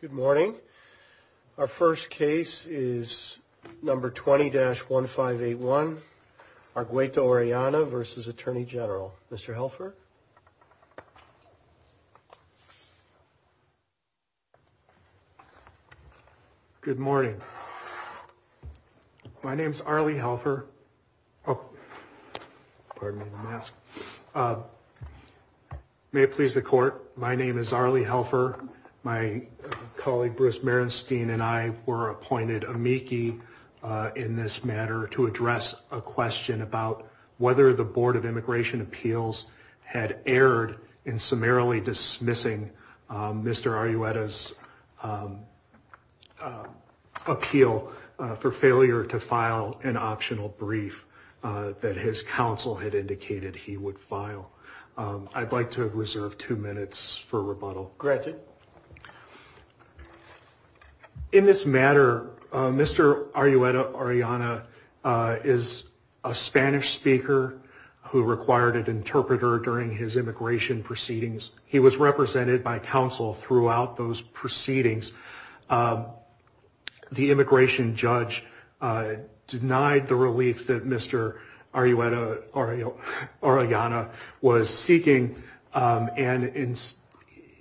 Good morning. Our first case is number 20-1581, Argueta-Orellanav versus Attorney General. Mr. Helfer. Good morning. My name's Arlie Helfer. Oh, pardon me, the mask. May it please the court, my name is Arlie Helfer. My colleague Bruce Merenstein and I were appointed amici in this matter to address a question about whether the Board of Immigration Appeals had erred in summarily dismissing Mr. Argueta's appeal for failure to file an optional brief that his counsel had indicated he would file. I'd like to reserve two minutes for rebuttal. In this matter, Mr. Argueta-Orellanav is a Spanish speaker who required an interpreter during his immigration proceedings. He was represented by counsel throughout those proceedings. The immigration judge denied the relief that Mr. Argueta-Orellanav was seeking and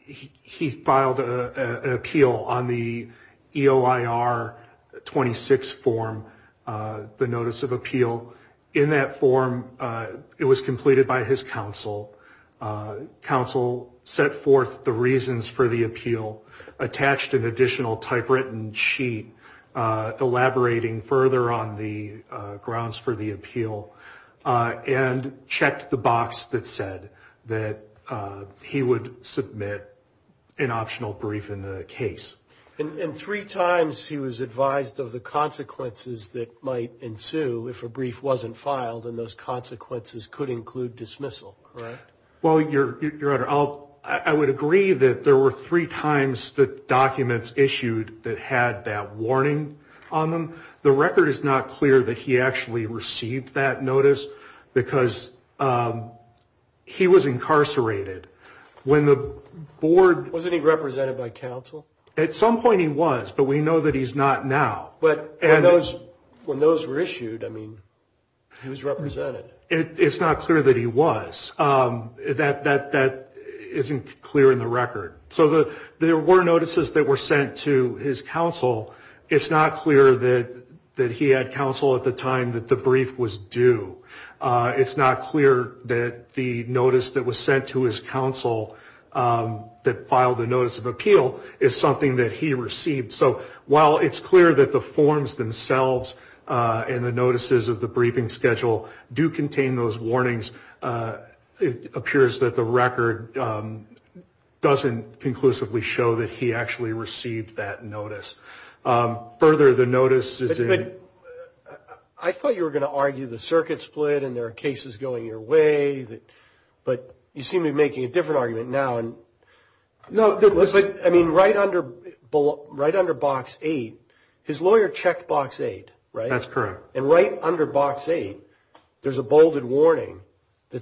he filed an appeal on the EOIR-26 form, the notice of appeal. So in that form, it was completed by his counsel. Counsel set forth the reasons for the appeal, attached an additional typewritten sheet elaborating further on the grounds for the appeal, and checked the box that said that he would submit an optional brief in the case. And three times he was advised of the consequences that might ensue if a brief wasn't filed and those consequences could include dismissal, correct? Well, Your Honor, I would agree that there were three times the documents issued that had that warning on them. The record is not clear that he actually received that notice because he was incarcerated. Wasn't he represented by counsel? At some point he was, but we know that he's not now. But when those were issued, I mean, he was represented. It's not clear that he was. That isn't clear in the record. So there were notices that were sent to his counsel. It's not clear that he had counsel at the time that the brief was due. It's not clear that the notice that was sent to his counsel that filed the notice of appeal is something that he received. So while it's clear that the forms themselves and the notices of the briefing schedule do contain those warnings, it appears that the record doesn't conclusively show that he actually received that notice. Further, the notice is in... I thought you were going to argue the circuit split and there are cases going your way. But you seem to be making a different argument now. No, listen. I mean, right under box 8, his lawyer checked box 8, right? That's correct. And right under box 8, there's a bolded warning.